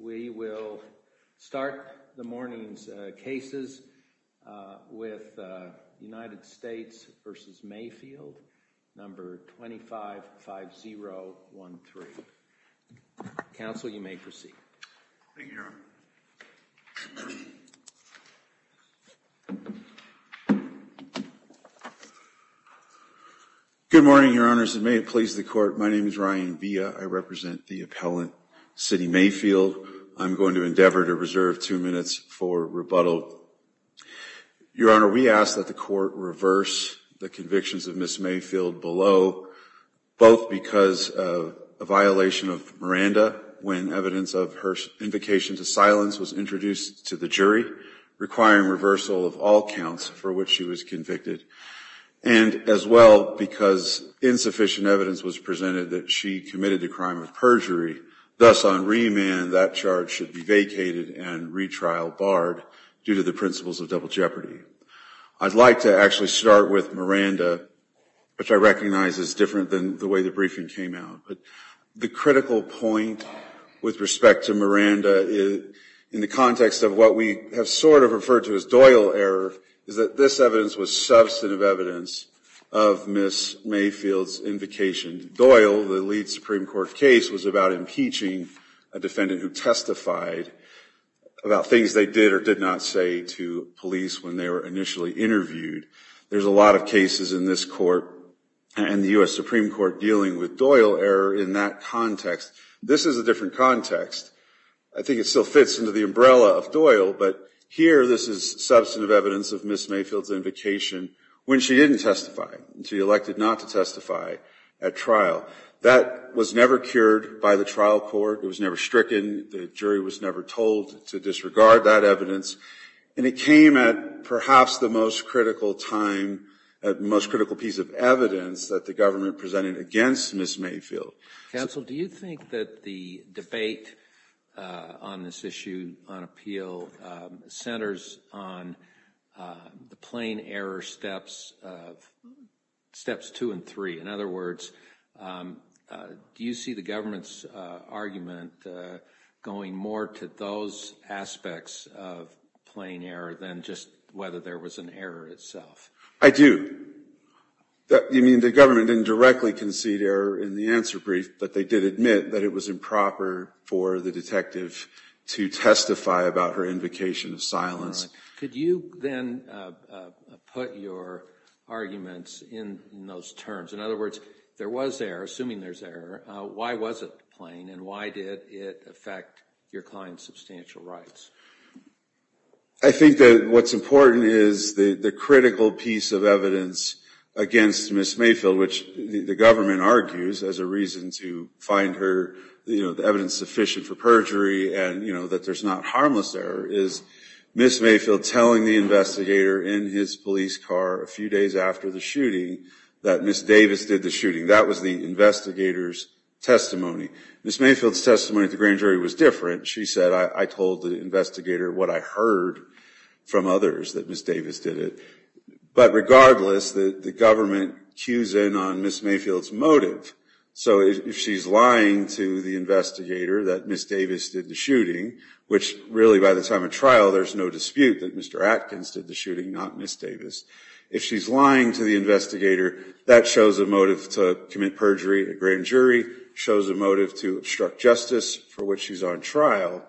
We will start the morning's cases with United States v. Mayfield, No. 255013. Counsel you may proceed. Thank you, Your Honor. Good morning, Your Honors, and may it please the Court. My name is Ryan Villa. I represent the appellant, City Mayfield. I'm going to endeavor to reserve two minutes for rebuttal. Your Honor, we ask that the Court reverse the convictions of Ms. Mayfield below, both because of a violation of Miranda when evidence of her invocation to silence was introduced to the jury, requiring reversal of all counts for which she was convicted, and as well because insufficient evidence was presented that she committed the crime of perjury. Thus, on remand, that charge should be vacated and retrial barred due to the principles of double jeopardy. I'd like to actually start with Miranda, which I recognize is different than the way the briefing came out. But the critical point with respect to Miranda in the context of what we have sort of referred to as Doyle error is that this evidence was substantive evidence of Ms. Mayfield's invocation. Doyle, the lead Supreme Court case, was about impeaching a defendant who testified about things they did or did not say to police when they were initially interviewed. There's a lot of cases in this Court and the U.S. Supreme Court dealing with Doyle error in that context. This is a different context. I think it still fits into the umbrella of Doyle, but here this is substantive evidence of Ms. Mayfield's invocation when she didn't testify and she elected not to testify at trial. That was never cured by the trial court. It was never stricken. The jury was never told to disregard that evidence. And it came at perhaps the most critical time, the most critical piece of evidence that the government presented against Ms. Mayfield. Counsel, do you think that the debate on this issue on appeal centers on the plain error steps two and three? In other words, do you see the government's argument going more to those aspects of plain error than just whether there was an error itself? I do. You mean the government didn't directly concede error in the answer brief, but they did admit that it was improper for the detective to testify about her invocation of silence? Could you then put your arguments in those terms? In other words, there was error, assuming there's error. Why was it plain and why did it affect your client's substantial rights? I think that what's important is the critical piece of evidence against Ms. Mayfield, which the government argues as a reason to find her evidence sufficient for perjury and that there's not harmless error, is Ms. Mayfield telling the investigator in his police car a few days after the shooting that Ms. Davis did the shooting. That was the investigator's testimony. Ms. Mayfield's testimony at the grand jury was different. She said, I told the investigator what I heard from others, that Ms. Davis did it. But regardless, the government cues in on Ms. Mayfield's motive. So if she's lying to the investigator that Ms. Davis did the shooting, which really by the time of trial there's no dispute that Mr. Atkins did the shooting, not Ms. Davis. If she's lying to the investigator, that shows a motive to commit perjury at grand jury, shows a motive to obstruct justice for which she's on trial.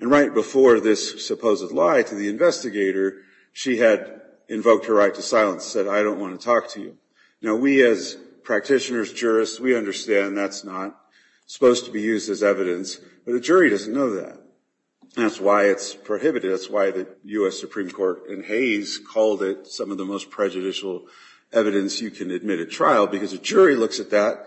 And right before this supposed lie to the investigator, she had invoked her right to silence, said, I don't want to talk to you. Now, we as practitioners, jurists, we understand that's not supposed to be used as evidence, but a jury doesn't know that. That's why it's prohibited. That's why the U.S. Supreme Court in Hays called it some of the most prejudicial evidence you can admit at trial, because a jury looks at that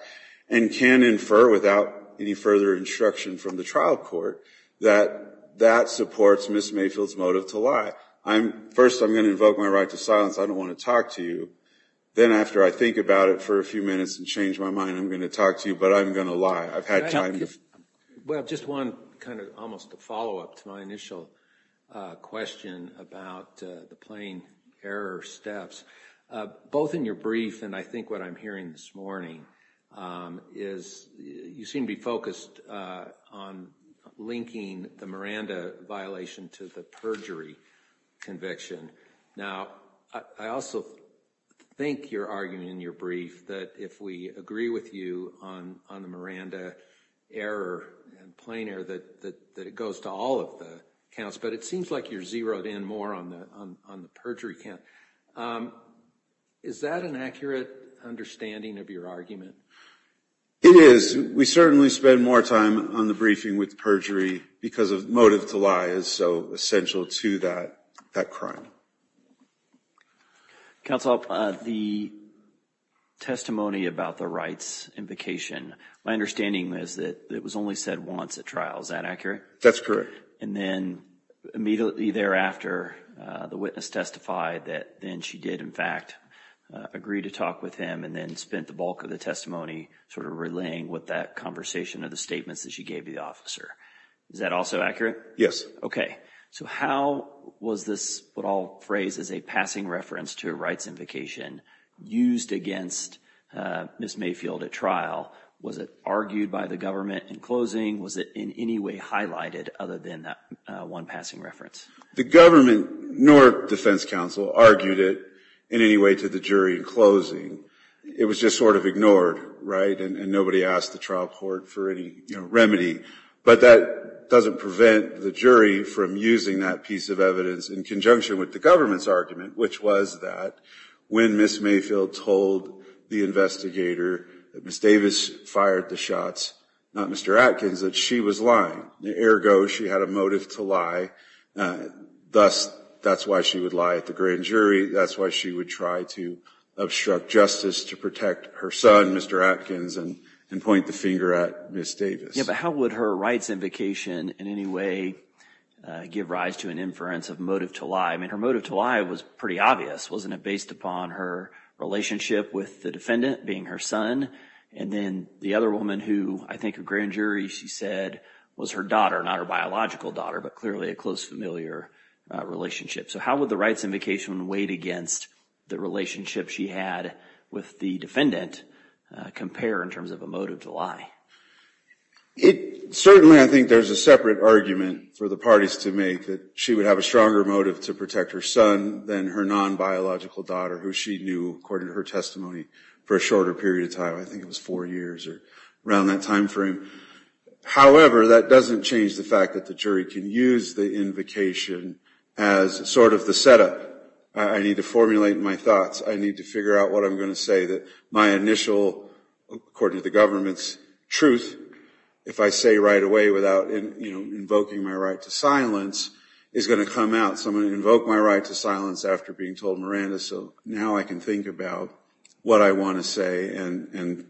and can infer without any further instruction from the trial court that that supports Ms. Mayfield's motive to lie. First, I'm going to invoke my right to silence. I don't want to talk to you. Then after I think about it for a few minutes and change my mind, I'm going to talk to you, but I'm going to lie. I've had time. Well, just one kind of almost a follow-up to my initial question about the plain error steps. Both in your brief and I think what I'm hearing this morning is you seem to be focused on linking the Miranda violation to the perjury conviction. Now, I also think your argument in your brief that if we agree with you on the Miranda error and plain error, that it goes to all of the counts, but it seems like you're zeroed in more on the perjury count. Is that an accurate understanding of your argument? It is. We certainly spend more time on the briefing with perjury because motive to lie is so essential to that crime. Counsel, the testimony about the rights invocation, my understanding is that it was only said once at trial. Is that accurate? That's correct. And then immediately thereafter, the witness testified that then she did in fact agree to talk with him and then spent the bulk of the testimony sort of relaying with that conversation of the statements that she gave the officer. Is that also accurate? Yes. Okay. So how was this what I'll phrase as a passing reference to a rights invocation used against Ms. Mayfield at trial? Was it argued by the government in closing? Was it in any way highlighted other than that one passing reference? The government nor defense counsel argued it in any way to the jury in closing. It was just sort of ignored, right? And nobody asked the trial court for any remedy. But that doesn't prevent the jury from using that piece of evidence in conjunction with the government's argument, which was that when Ms. Mayfield told the investigator that Ms. Davis fired the shots, not Mr. Atkins, that she was lying. Ergo, she had a motive to lie. Thus, that's why she would lie at the grand jury. That's why she would try to obstruct justice to protect her son, Mr. Atkins, and point the finger at Ms. Davis. Yeah, but how would her rights invocation in any way give rise to an inference of motive to lie? I mean, her motive to lie was pretty obvious. Wasn't it based upon her relationship with the defendant, being her son? And then the other woman who I think at grand jury, she said, was her daughter, not her biological daughter, but clearly a close, familiar relationship. So how would the rights invocation weight against the relationship she had with the defendant compare in terms of a motive to lie? Certainly, I think there's a separate argument for the parties to make that she would have a stronger motive to protect her son than her non-biological daughter, who she knew, according to her testimony, for a shorter period of time. I think it was four years or around that time frame. However, that doesn't change the fact that the jury can use the invocation as sort of the setup. I need to formulate my thoughts. I need to figure out what I'm going to say that my initial, according to the government's truth, if I say right away without invoking my right to silence, is going to come out. So I'm going to invoke my right to silence after being told Miranda. So now I can think about what I want to say and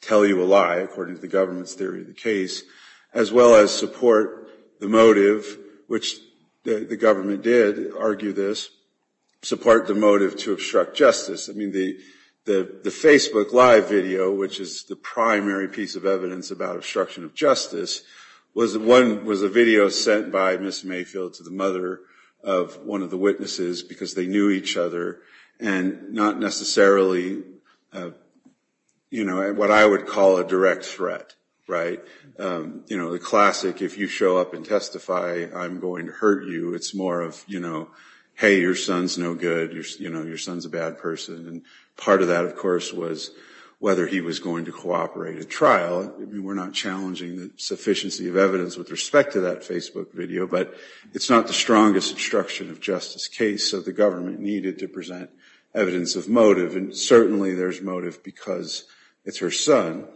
tell you a lie, according to the government's theory of the case, as well as support the motive, which the government did argue this, support the motive to obstruct justice. I mean, the Facebook live video, which is the primary piece of evidence about obstruction of justice, was a video sent by Ms. Mayfield to the mother of one of the witnesses because they knew each other and not necessarily what I would call a direct threat. You know, the classic, if you show up and testify, I'm going to hurt you. It's more of, you know, hey, your son's no good. You know, your son's a bad person. And part of that, of course, was whether he was going to cooperate at trial. We're not challenging the sufficiency of evidence with respect to that Facebook video, but it's not the strongest obstruction of justice case. So the government needed to present evidence of motive. And certainly there's motive because it's her son.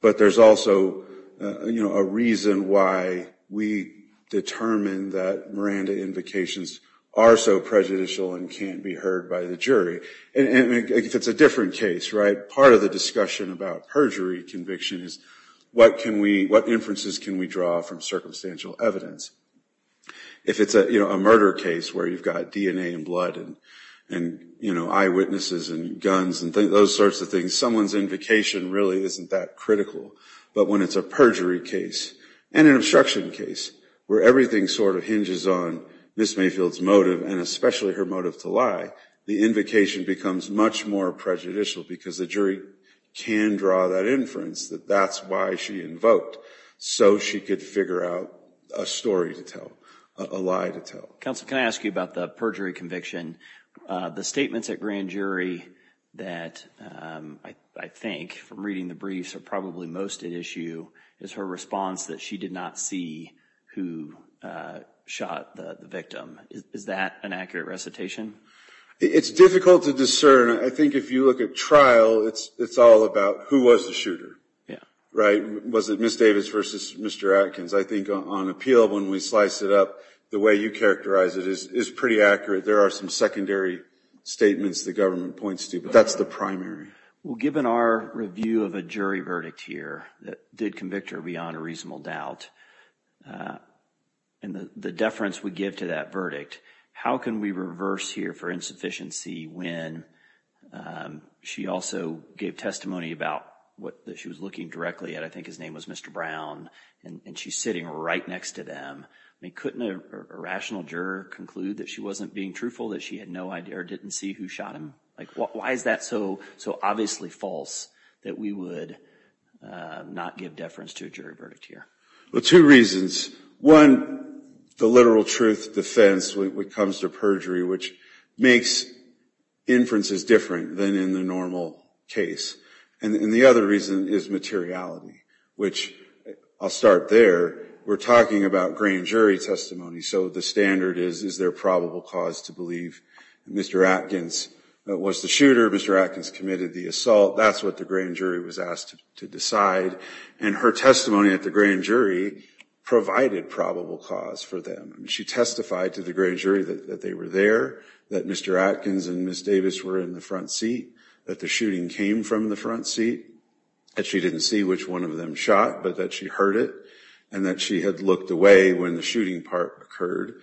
But there's also, you know, a reason why we determined that Miranda invocations are so prejudicial and can't be heard by the jury. And it's a different case, right? Part of the discussion about perjury conviction is what can we what inferences can we draw from circumstantial evidence? If it's a murder case where you've got DNA and blood and, you know, eyewitnesses and guns and those sorts of things, someone's invocation really isn't that critical. But when it's a perjury case and an obstruction case where everything sort of hinges on Ms. Mayfield's motive and especially her motive to lie, the invocation becomes much more prejudicial because the jury can draw that inference that that's why she invoked, so she could figure out a story to tell, a lie to tell. Well, counsel, can I ask you about the perjury conviction? The statements at grand jury that I think from reading the briefs are probably most at issue is her response that she did not see who shot the victim. Is that an accurate recitation? It's difficult to discern. I think if you look at trial, it's all about who was the shooter, right? Was it Ms. Davis versus Mr. Atkins? I think on appeal, when we slice it up, the way you characterize it is pretty accurate. There are some secondary statements the government points to, but that's the primary. Well, given our review of a jury verdict here that did convict her beyond a reasonable doubt and the deference we give to that verdict, how can we reverse here for insufficiency when she also gave testimony about what she was looking directly at? I think his name was Mr. Brown, and she's sitting right next to them. Couldn't a rational juror conclude that she wasn't being truthful, that she had no idea or didn't see who shot him? Why is that so obviously false that we would not give deference to a jury verdict here? Well, two reasons. One, the literal truth defense when it comes to perjury, which makes inferences different than in the normal case. And the other reason is materiality, which I'll start there. We're talking about grand jury testimony, so the standard is, is there probable cause to believe Mr. Atkins was the shooter, Mr. Atkins committed the assault, that's what the grand jury was asked to decide. And her testimony at the grand jury provided probable cause for them. She testified to the grand jury that they were there, that Mr. Atkins and Ms. Davis were in the front seat, that the shooting came from the front seat, that she didn't see which one of them shot, but that she heard it, and that she had looked away when the shooting part occurred.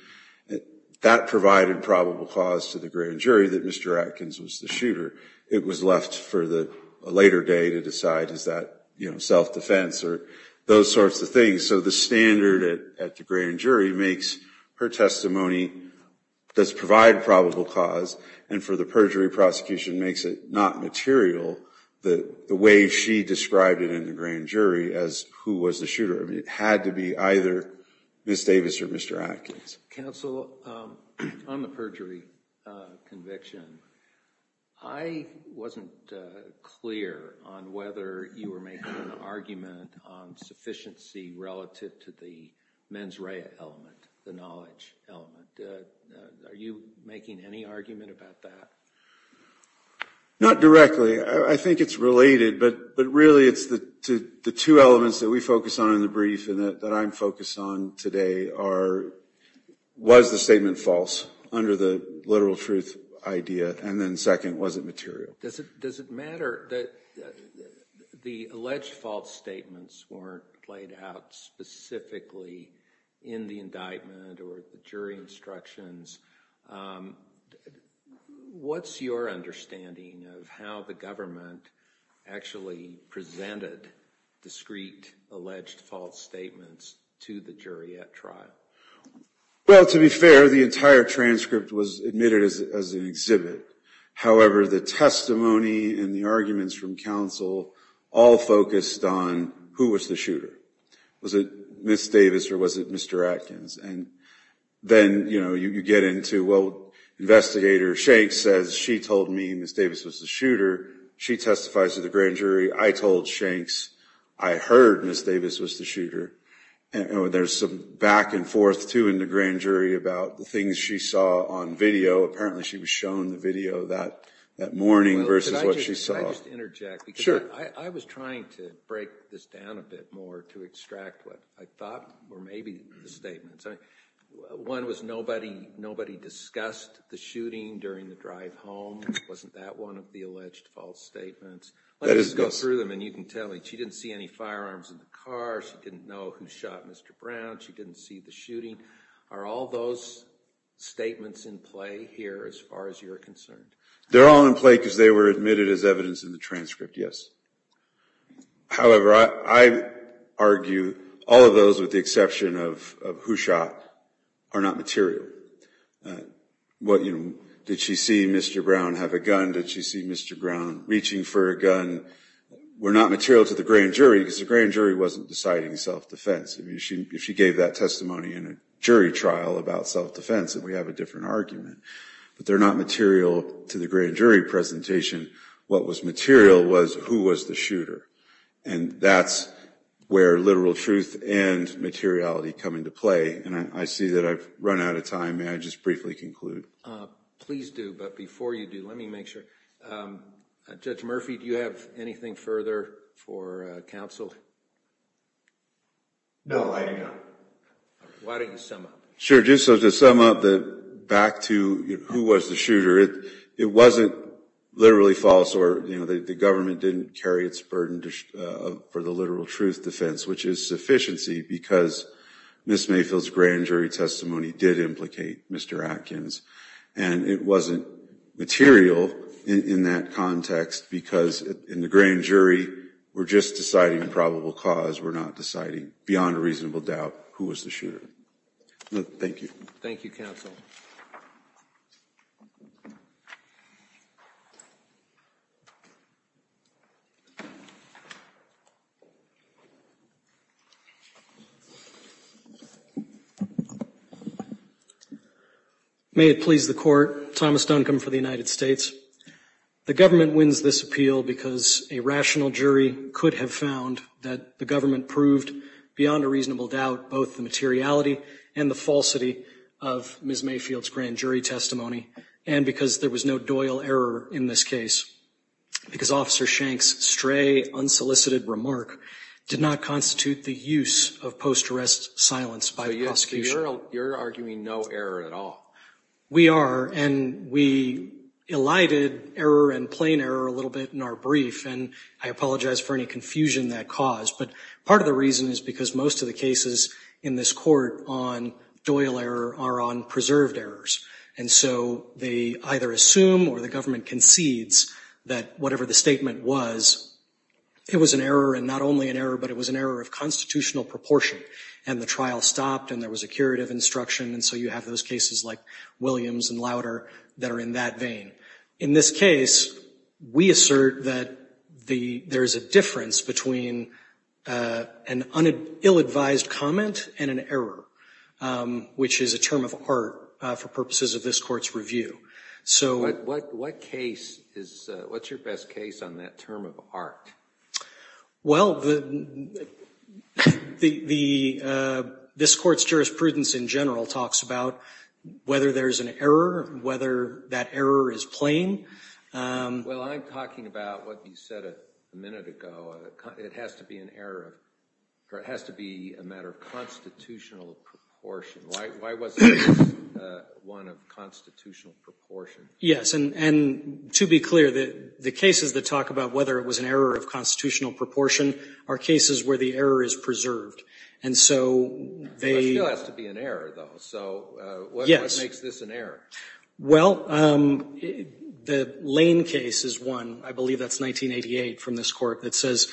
That provided probable cause to the grand jury that Mr. Atkins was the shooter. It was left for the later day to decide is that self-defense or those sorts of things. So the standard at the grand jury makes her testimony does provide probable cause, and for the perjury prosecution makes it not material the way she described it in the grand jury as who was the shooter. It had to be either Ms. Davis or Mr. Atkins. Counsel, on the perjury conviction, I wasn't clear on whether you were making an argument on sufficiency relative to the mens rea element, the knowledge element. Are you making any argument about that? Not directly. I think it's related, but really it's the two elements that we focus on in the brief and that I'm focused on today are was the statement false under the literal truth idea, and then second, was it material? Does it matter that the alleged false statements weren't played out specifically in the indictment or the jury instructions? What's your understanding of how the government actually presented discrete alleged false statements to the jury at trial? Well, to be fair, the entire transcript was admitted as an exhibit. However, the testimony and the arguments from counsel all focused on who was the shooter. Was it Ms. Davis or was it Mr. Atkins? And then, you know, you get into, well, investigator Shanks says she told me Ms. Davis was the shooter. She testifies to the grand jury. I told Shanks I heard Ms. Davis was the shooter. There's some back and forth, too, in the grand jury about the things she saw on video. Apparently she was shown the video that morning versus what she saw. Can I just interject? Sure. I was trying to break this down a bit more to extract what I thought were maybe the statements. One was nobody discussed the shooting during the drive home. Wasn't that one of the alleged false statements? Let me just go through them and you can tell me. She didn't see any firearms in the car. She didn't know who shot Mr. Brown. She didn't see the shooting. Are all those statements in play here as far as you're concerned? They're all in play because they were admitted as evidence in the transcript, yes. However, I argue all of those with the exception of who shot are not material. Did she see Mr. Brown have a gun? Did she see Mr. Brown reaching for a gun? Were not material to the grand jury because the grand jury wasn't deciding self-defense. If she gave that testimony in a jury trial about self-defense, then we have a different argument. But they're not material to the grand jury presentation. What was material was who was the shooter. And that's where literal truth and materiality come into play. And I see that I've run out of time. May I just briefly conclude? Please do. But before you do, let me make sure. Judge Murphy, do you have anything further for counsel? No, I do not. Why don't you sum up? Sure. Just to sum up, back to who was the shooter. It wasn't literally false or the government didn't carry its burden for the literal truth defense, which is sufficiency because Ms. Mayfield's grand jury testimony did implicate Mr. Atkins. And it wasn't material in that context because in the grand jury, we're just deciding probable cause. We're not deciding beyond a reasonable doubt who was the shooter. Thank you. Thank you, counsel. May it please the court. Thomas Duncombe for the United States. The government wins this appeal because a rational jury could have found that the government proved, beyond a reasonable doubt, both the materiality and the falsity of Ms. Mayfield's grand jury testimony. And because there was no Doyle error in this case. Because Officer Shank's stray, unsolicited remark did not constitute the use of post-arrest silence by the prosecution. You're arguing no error at all. We are. And we elided error and plain error a little bit in our brief. And I apologize for any confusion that caused. But part of the reason is because most of the cases in this court on Doyle error are on preserved errors. And so they either assume or the government concedes that whatever the statement was, it was an error. And not only an error, but it was an error of constitutional proportion. And the trial stopped and there was a curative instruction. And so you have those cases like Williams and Lauder that are in that vein. In this case, we assert that there is a difference between an ill-advised comment and an error, which is a term of art for purposes of this court's review. What's your best case on that term of art? Well, this court's jurisprudence in general talks about whether there's an error, whether that error is plain. Well, I'm talking about what you said a minute ago. It has to be an error. It has to be a matter of constitutional proportion. Why wasn't this one of constitutional proportion? Yes. And to be clear, the cases that talk about whether it was an error of constitutional proportion are cases where the error is preserved. And so they — But it still has to be an error, though. So what makes this an error? Well, the Lane case is one. I believe that's 1988 from this court that says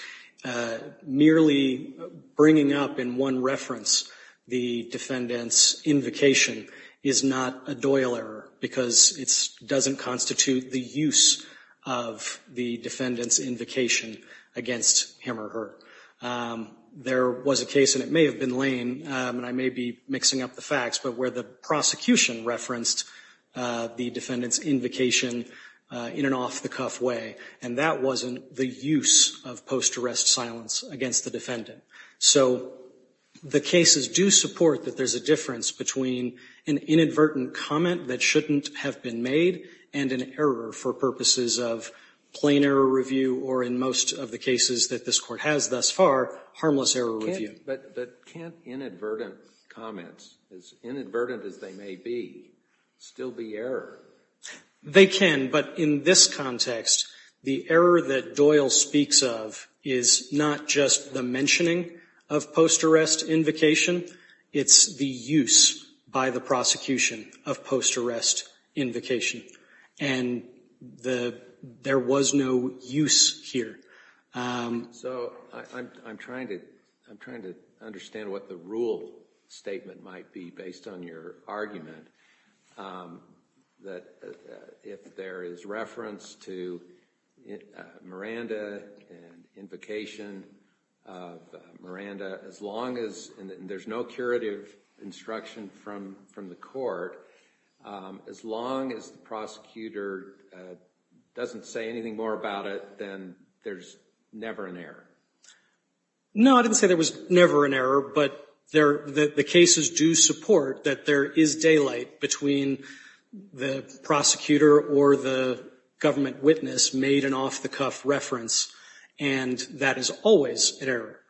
merely bringing up in one reference the defendant's invocation is not a Doyle error because it doesn't constitute the use of the defendant's invocation against him or her. There was a case, and it may have been Lane, and I may be mixing up the facts, but where the prosecution referenced the defendant's invocation in an off-the-cuff way, and that wasn't the use of post-arrest silence against the defendant. So the cases do support that there's a difference between an inadvertent comment that shouldn't have been made and an error for purposes of plain error review or, in most of the cases that this Court has thus far, harmless error review. But can't inadvertent comments, as inadvertent as they may be, still be error? They can. But in this context, the error that Doyle speaks of is not just the mentioning of post-arrest invocation. It's the use by the prosecution of post-arrest invocation. And there was no use here. So I'm trying to understand what the rule statement might be based on your argument, that if there is reference to Miranda and invocation of Miranda, and there's no curative instruction from the court, as long as the prosecutor doesn't say anything more about it, then there's never an error. No, I didn't say there was never an error, but the cases do support that there is daylight between the prosecutor or the government witness made an off-the-cuff reference, and that is always an error.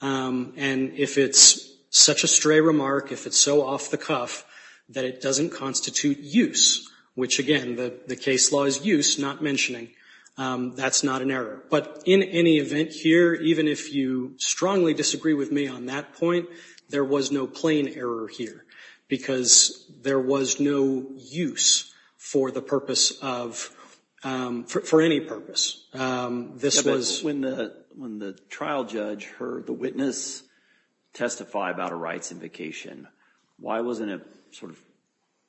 And if it's such a stray remark, if it's so off-the-cuff, that it doesn't constitute use, which, again, the case law is use, not mentioning, that's not an error. But in any event here, even if you strongly disagree with me on that point, there was no plain error here, because there was no use for the purpose of – for any purpose. When the trial judge heard the witness testify about a rights invocation, why wasn't it sort of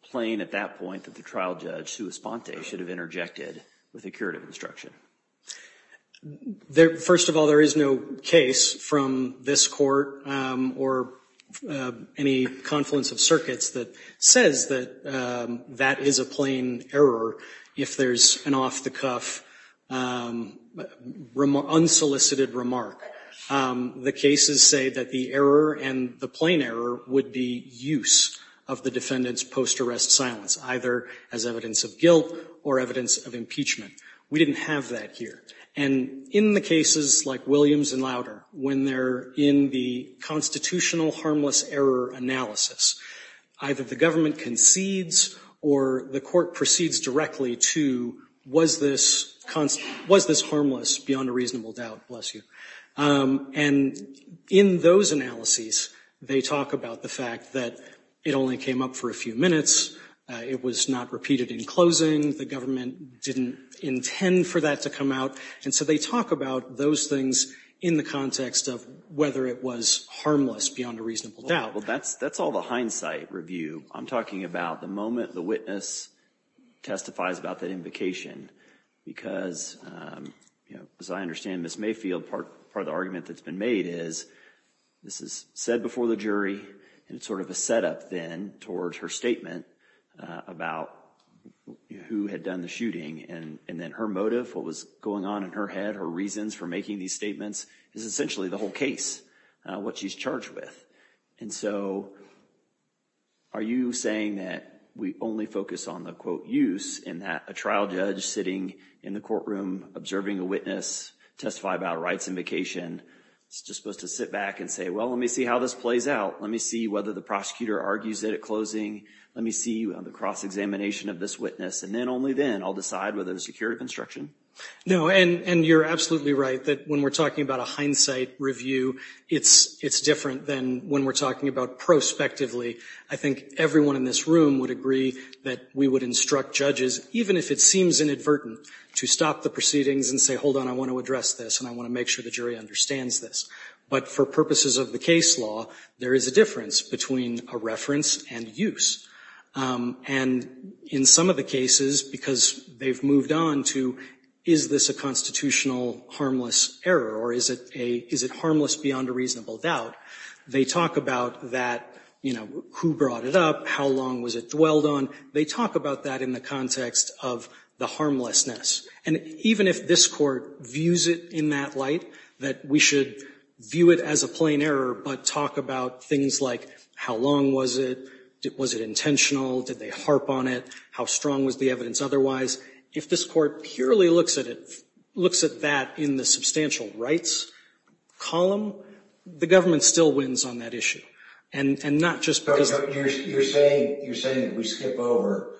plain at that point that the trial judge, Sue Esponte, should have interjected with a curative instruction? First of all, there is no case from this court or any confluence of circuits that says that that is a plain error if there's an off-the-cuff, unsolicited remark. The cases say that the error and the plain error would be use of the defendant's post-arrest silence, either as evidence of guilt or evidence of impeachment. We didn't have that here. And in the cases like Williams and Lauder, when they're in the constitutional harmless error analysis, either the government concedes or the court proceeds directly to, was this – was this harmless beyond a reasonable doubt, bless you. And in those analyses, they talk about the fact that it only came up for a few minutes. It was not repeated in closing. The government didn't intend for that to come out. And so they talk about those things in the context of whether it was harmless beyond a reasonable doubt. Well, that's – that's all the hindsight review. I'm talking about the moment the witness testifies about that invocation because, you know, as I understand Ms. Mayfield, part of the argument that's been made is this is said before the jury and it's sort of a setup then towards her statement about who had done the shooting. And then her motive, what was going on in her head, her reasons for making these statements is essentially the whole case, what she's charged with. And so are you saying that we only focus on the, quote, use and that a trial judge sitting in the courtroom observing a witness testify about a rights invocation is just supposed to sit back and say, well, let me see how this plays out. Let me see whether the prosecutor argues it at closing. Let me see the cross-examination of this witness. And then only then I'll decide whether there's security construction. No, and you're absolutely right that when we're talking about a hindsight review, it's different than when we're talking about prospectively. I think everyone in this room would agree that we would instruct judges, even if it seems inadvertent, to stop the proceedings and say, hold on, I want to address this and I want to make sure the jury understands this. But for purposes of the case law, there is a difference between a reference and use. And in some of the cases, because they've moved on to is this a constitutional harmless error or is it harmless beyond a reasonable doubt, they talk about that, you know, who brought it up, how long was it dwelled on. They talk about that in the context of the harmlessness. And even if this Court views it in that light, that we should view it as a plain error but talk about things like how long was it? Was it intentional? Did they harp on it? How strong was the evidence otherwise? If this Court purely looks at it, looks at that in the substantial rights column, the government still wins on that issue. And not just because You're saying that we skip over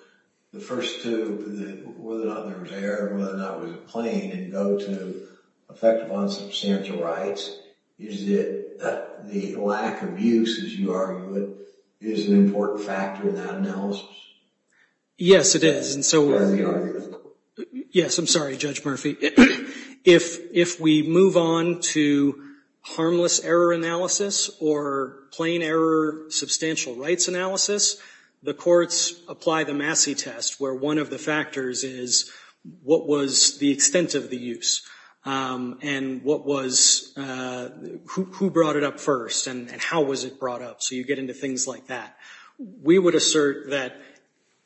the first two, whether or not there was an error, whether or not it was a plain, and go to effective on substantial rights. Is it that the lack of use, as you argue it, is an important factor in that analysis? Yes, it is. Yes, I'm sorry, Judge Murphy. If we move on to harmless error analysis or plain error substantial rights analysis, the courts apply the Massey test, where one of the factors is what was the extent of the use? And what was, who brought it up first? And how was it brought up? So you get into things like that. We would assert that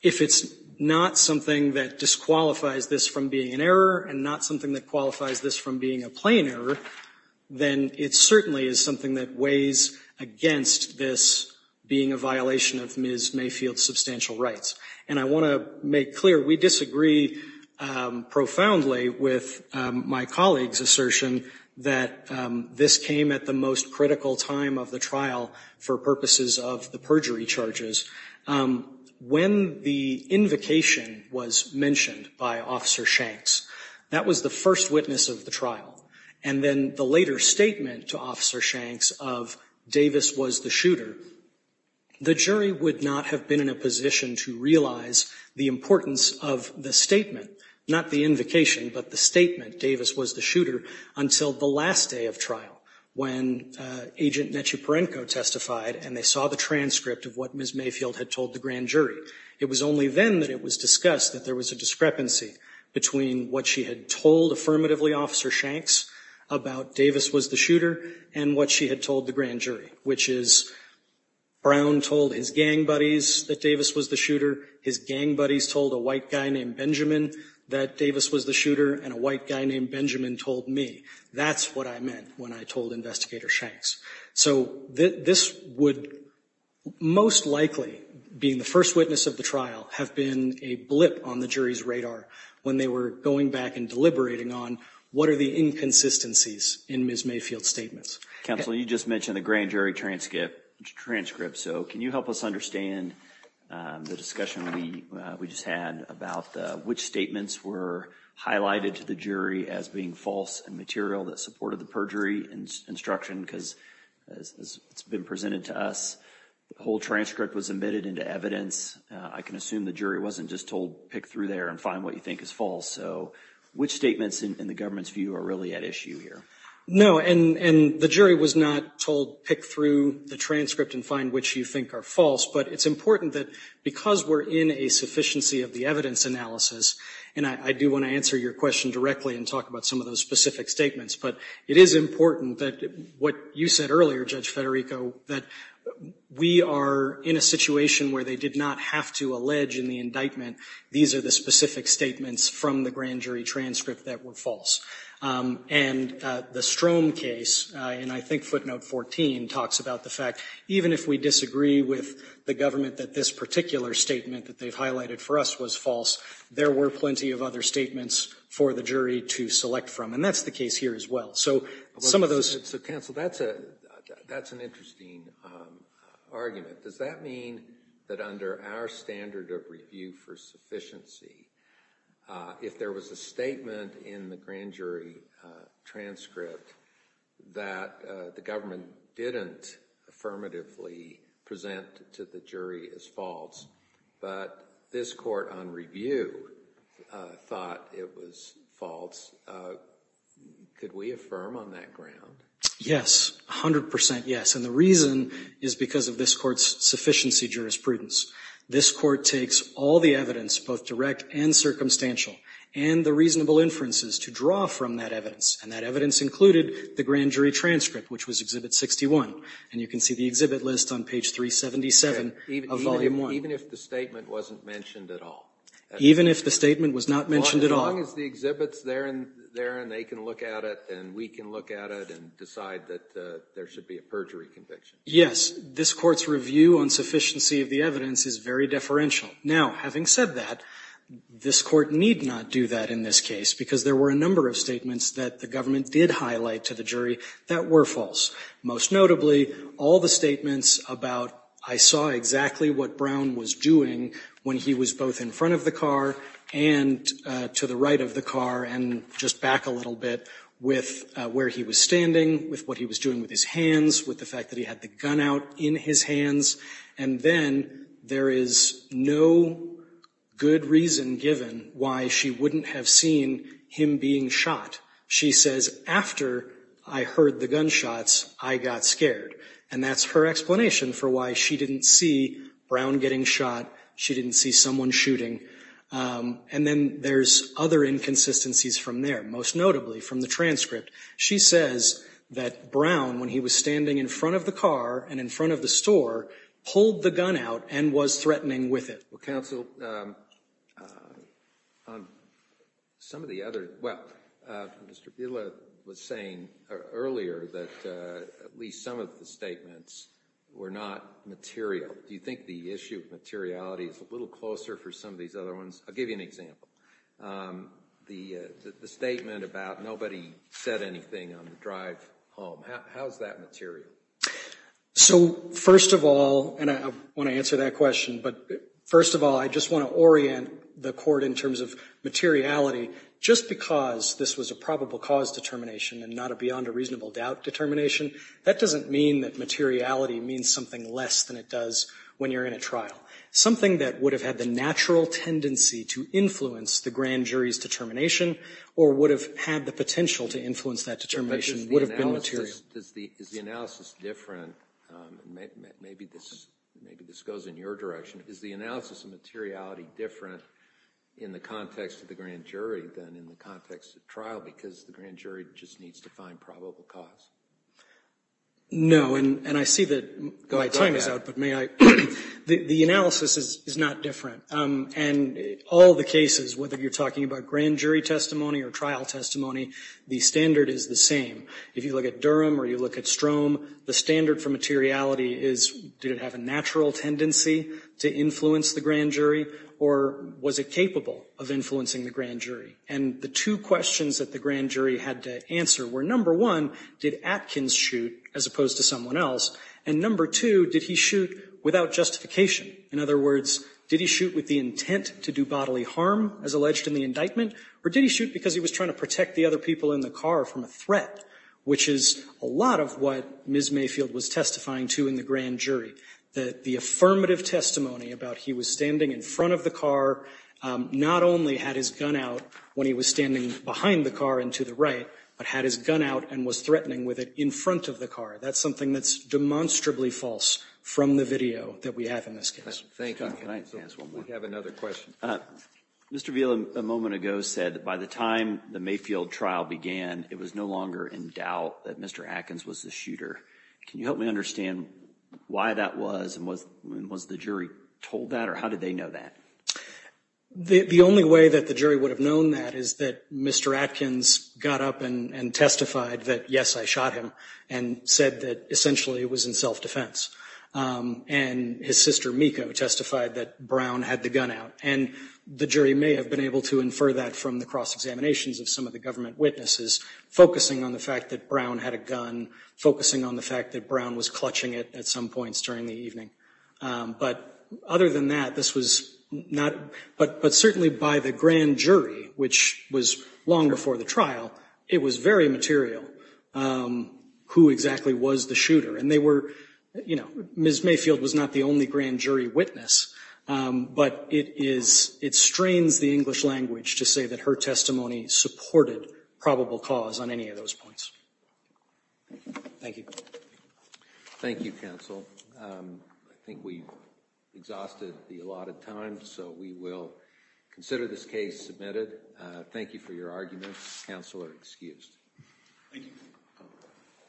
if it's not something that disqualifies this from being an error and not something that qualifies this from being a plain error, then it certainly is something that weighs against this being a violation of Ms. Mayfield's substantial rights. And I want to make clear, we disagree profoundly with my colleague's assertion that this came at the most critical time of the trial for purposes of the perjury charges. When the invocation was mentioned by Officer Shanks, that was the first witness of the trial. And then the later statement to Officer Shanks of Davis was the shooter, the jury would not have been in a position to realize the importance of the statement, not the invocation, but the statement, Davis was the shooter, until the last day of trial, when Agent Nechiporenko testified and they saw the transcript of what Ms. Mayfield had told the grand jury. It was only then that it was discussed that there was a discrepancy between what she had told affirmatively Officer Shanks about Davis was the shooter and what she had told the grand jury, which is Brown told his gang buddies that Davis was the shooter, his gang buddies told a white guy named Benjamin that Davis was the shooter, and a white guy named Benjamin told me. That's what I meant when I told Investigator Shanks. So this would most likely, being the first witness of the trial, have been a blip on the jury's radar when they were going back and deliberating on what are the inconsistencies in Ms. Mayfield's statements. Counsel, you just mentioned the grand jury transcript, so can you help us understand the discussion we just had about which statements were highlighted to the jury as being false and material that supported the perjury instruction because it's been presented to us. The whole transcript was admitted into evidence. I can assume the jury wasn't just told pick through there and find what you think is false. So which statements in the government's view are really at issue here? No, and the jury was not told pick through the transcript and find which you think are false, but it's important that because we're in a sufficiency of the evidence analysis, and I do want to answer your question directly and talk about some of those specific statements, but it is important that what you said earlier, Judge Federico, that we are in a situation where they did not have to allege in the indictment these are the specific statements from the grand jury transcript that were false. And the Strom case, and I think footnote 14 talks about the fact, even if we disagree with the government that this particular statement that they've highlighted for us was false, there were plenty of other statements for the jury to select from. And that's the case here as well. So counsel, that's an interesting argument. Does that mean that under our standard of review for sufficiency, if there was a statement in the grand jury transcript that the government didn't affirmatively present to the jury as false, but this court on review thought it was false, could we affirm on that ground? Yes, 100 percent yes. And the reason is because of this court's sufficiency jurisprudence. This court takes all the evidence, both direct and circumstantial, and the reasonable inferences to draw from that evidence, and that evidence included the grand jury transcript, which was Exhibit 61. And you can see the exhibit list on page 377 of Volume 1. Even if the statement wasn't mentioned at all? Even if the statement was not mentioned at all. As long as the exhibit's there and they can look at it and we can look at it and decide that there should be a perjury conviction. Yes. This court's review on sufficiency of the evidence is very deferential. Now, having said that, this court need not do that in this case, because there were a number of statements that the government did highlight to the jury that were false. Most notably, all the statements about I saw exactly what Brown was doing when he was both in front of the car and to the right of the car and just back a little bit with where he was standing, with what he was doing with his hands, with the fact that he had the gun out in his hands, and then there is no good reason given why she wouldn't have seen him being shot. She says, after I heard the gunshots, I got scared. And that's her explanation for why she didn't see Brown getting shot. She didn't see someone shooting. And then there's other inconsistencies from there, most notably from the transcript. She says that Brown, when he was standing in front of the car and in front of the store, pulled the gun out and was threatening with it. Well, counsel, some of the other – well, Mr. Buehler was saying earlier that at least some of the statements were not material. Do you think the issue of materiality is a little closer for some of these other ones? I'll give you an example. The statement about nobody said anything on the drive home, how is that material? So first of all, and I want to answer that question, but first of all, I just want to orient the court in terms of materiality. Just because this was a probable cause determination and not a beyond a reasonable doubt determination, that doesn't mean that materiality means something less than it does when you're in a trial. Something that would have had the natural tendency to influence the grand jury's determination or would have had the potential to influence that determination would have been material. Is the analysis different – maybe this goes in your direction – is the analysis of materiality different in the context of the grand jury than in the context of trial because the grand jury just needs to find probable cause? No. And I see that my time is out, but may I – the analysis is not different. And all the cases, whether you're talking about grand jury testimony or trial testimony, the standard is the same. If you look at Durham or you look at Strom, the standard for materiality is did it have a natural tendency to influence the grand jury or was it capable of influencing the grand jury? And the two questions that the grand jury had to answer were, number one, did Atkins shoot as opposed to someone else? And number two, did he shoot without justification? In other words, did he shoot with the intent to do bodily harm, as alleged in the indictment, or did he shoot because he was trying to protect the other people in the crowd? Which is a lot of what Ms. Mayfield was testifying to in the grand jury, that the affirmative testimony about he was standing in front of the car not only had his gun out when he was standing behind the car and to the right, but had his gun out and was threatening with it in front of the car. That's something that's demonstrably false from the video that we have in this case. Thank you. Can I ask one more? We have another question. Mr. Veal, a moment ago, said that by the time the Mayfield trial began, it was no longer in doubt that Mr. Atkins was the shooter. Can you help me understand why that was, and was the jury told that, or how did they know that? The only way that the jury would have known that is that Mr. Atkins got up and testified that, yes, I shot him, and said that, essentially, it was in self-defense. And his sister, Miko, testified that Brown had the gun out. And the jury may have been able to infer that from the cross-examinations of some of the government witnesses, focusing on the fact that Brown had a gun, focusing on the fact that Brown was clutching it at some points during the evening. But other than that, this was not – but certainly by the grand jury, which was long before the trial, it was very material who exactly was the shooter. And they were – you know, Ms. Mayfield was not the only grand jury witness, but it is – it strains the English language to say that her testimony supported probable cause on any of those points. Thank you. Thank you, counsel. I think we've exhausted the allotted time, so we will consider this case submitted. Thank you for your arguments. Counsel are excused.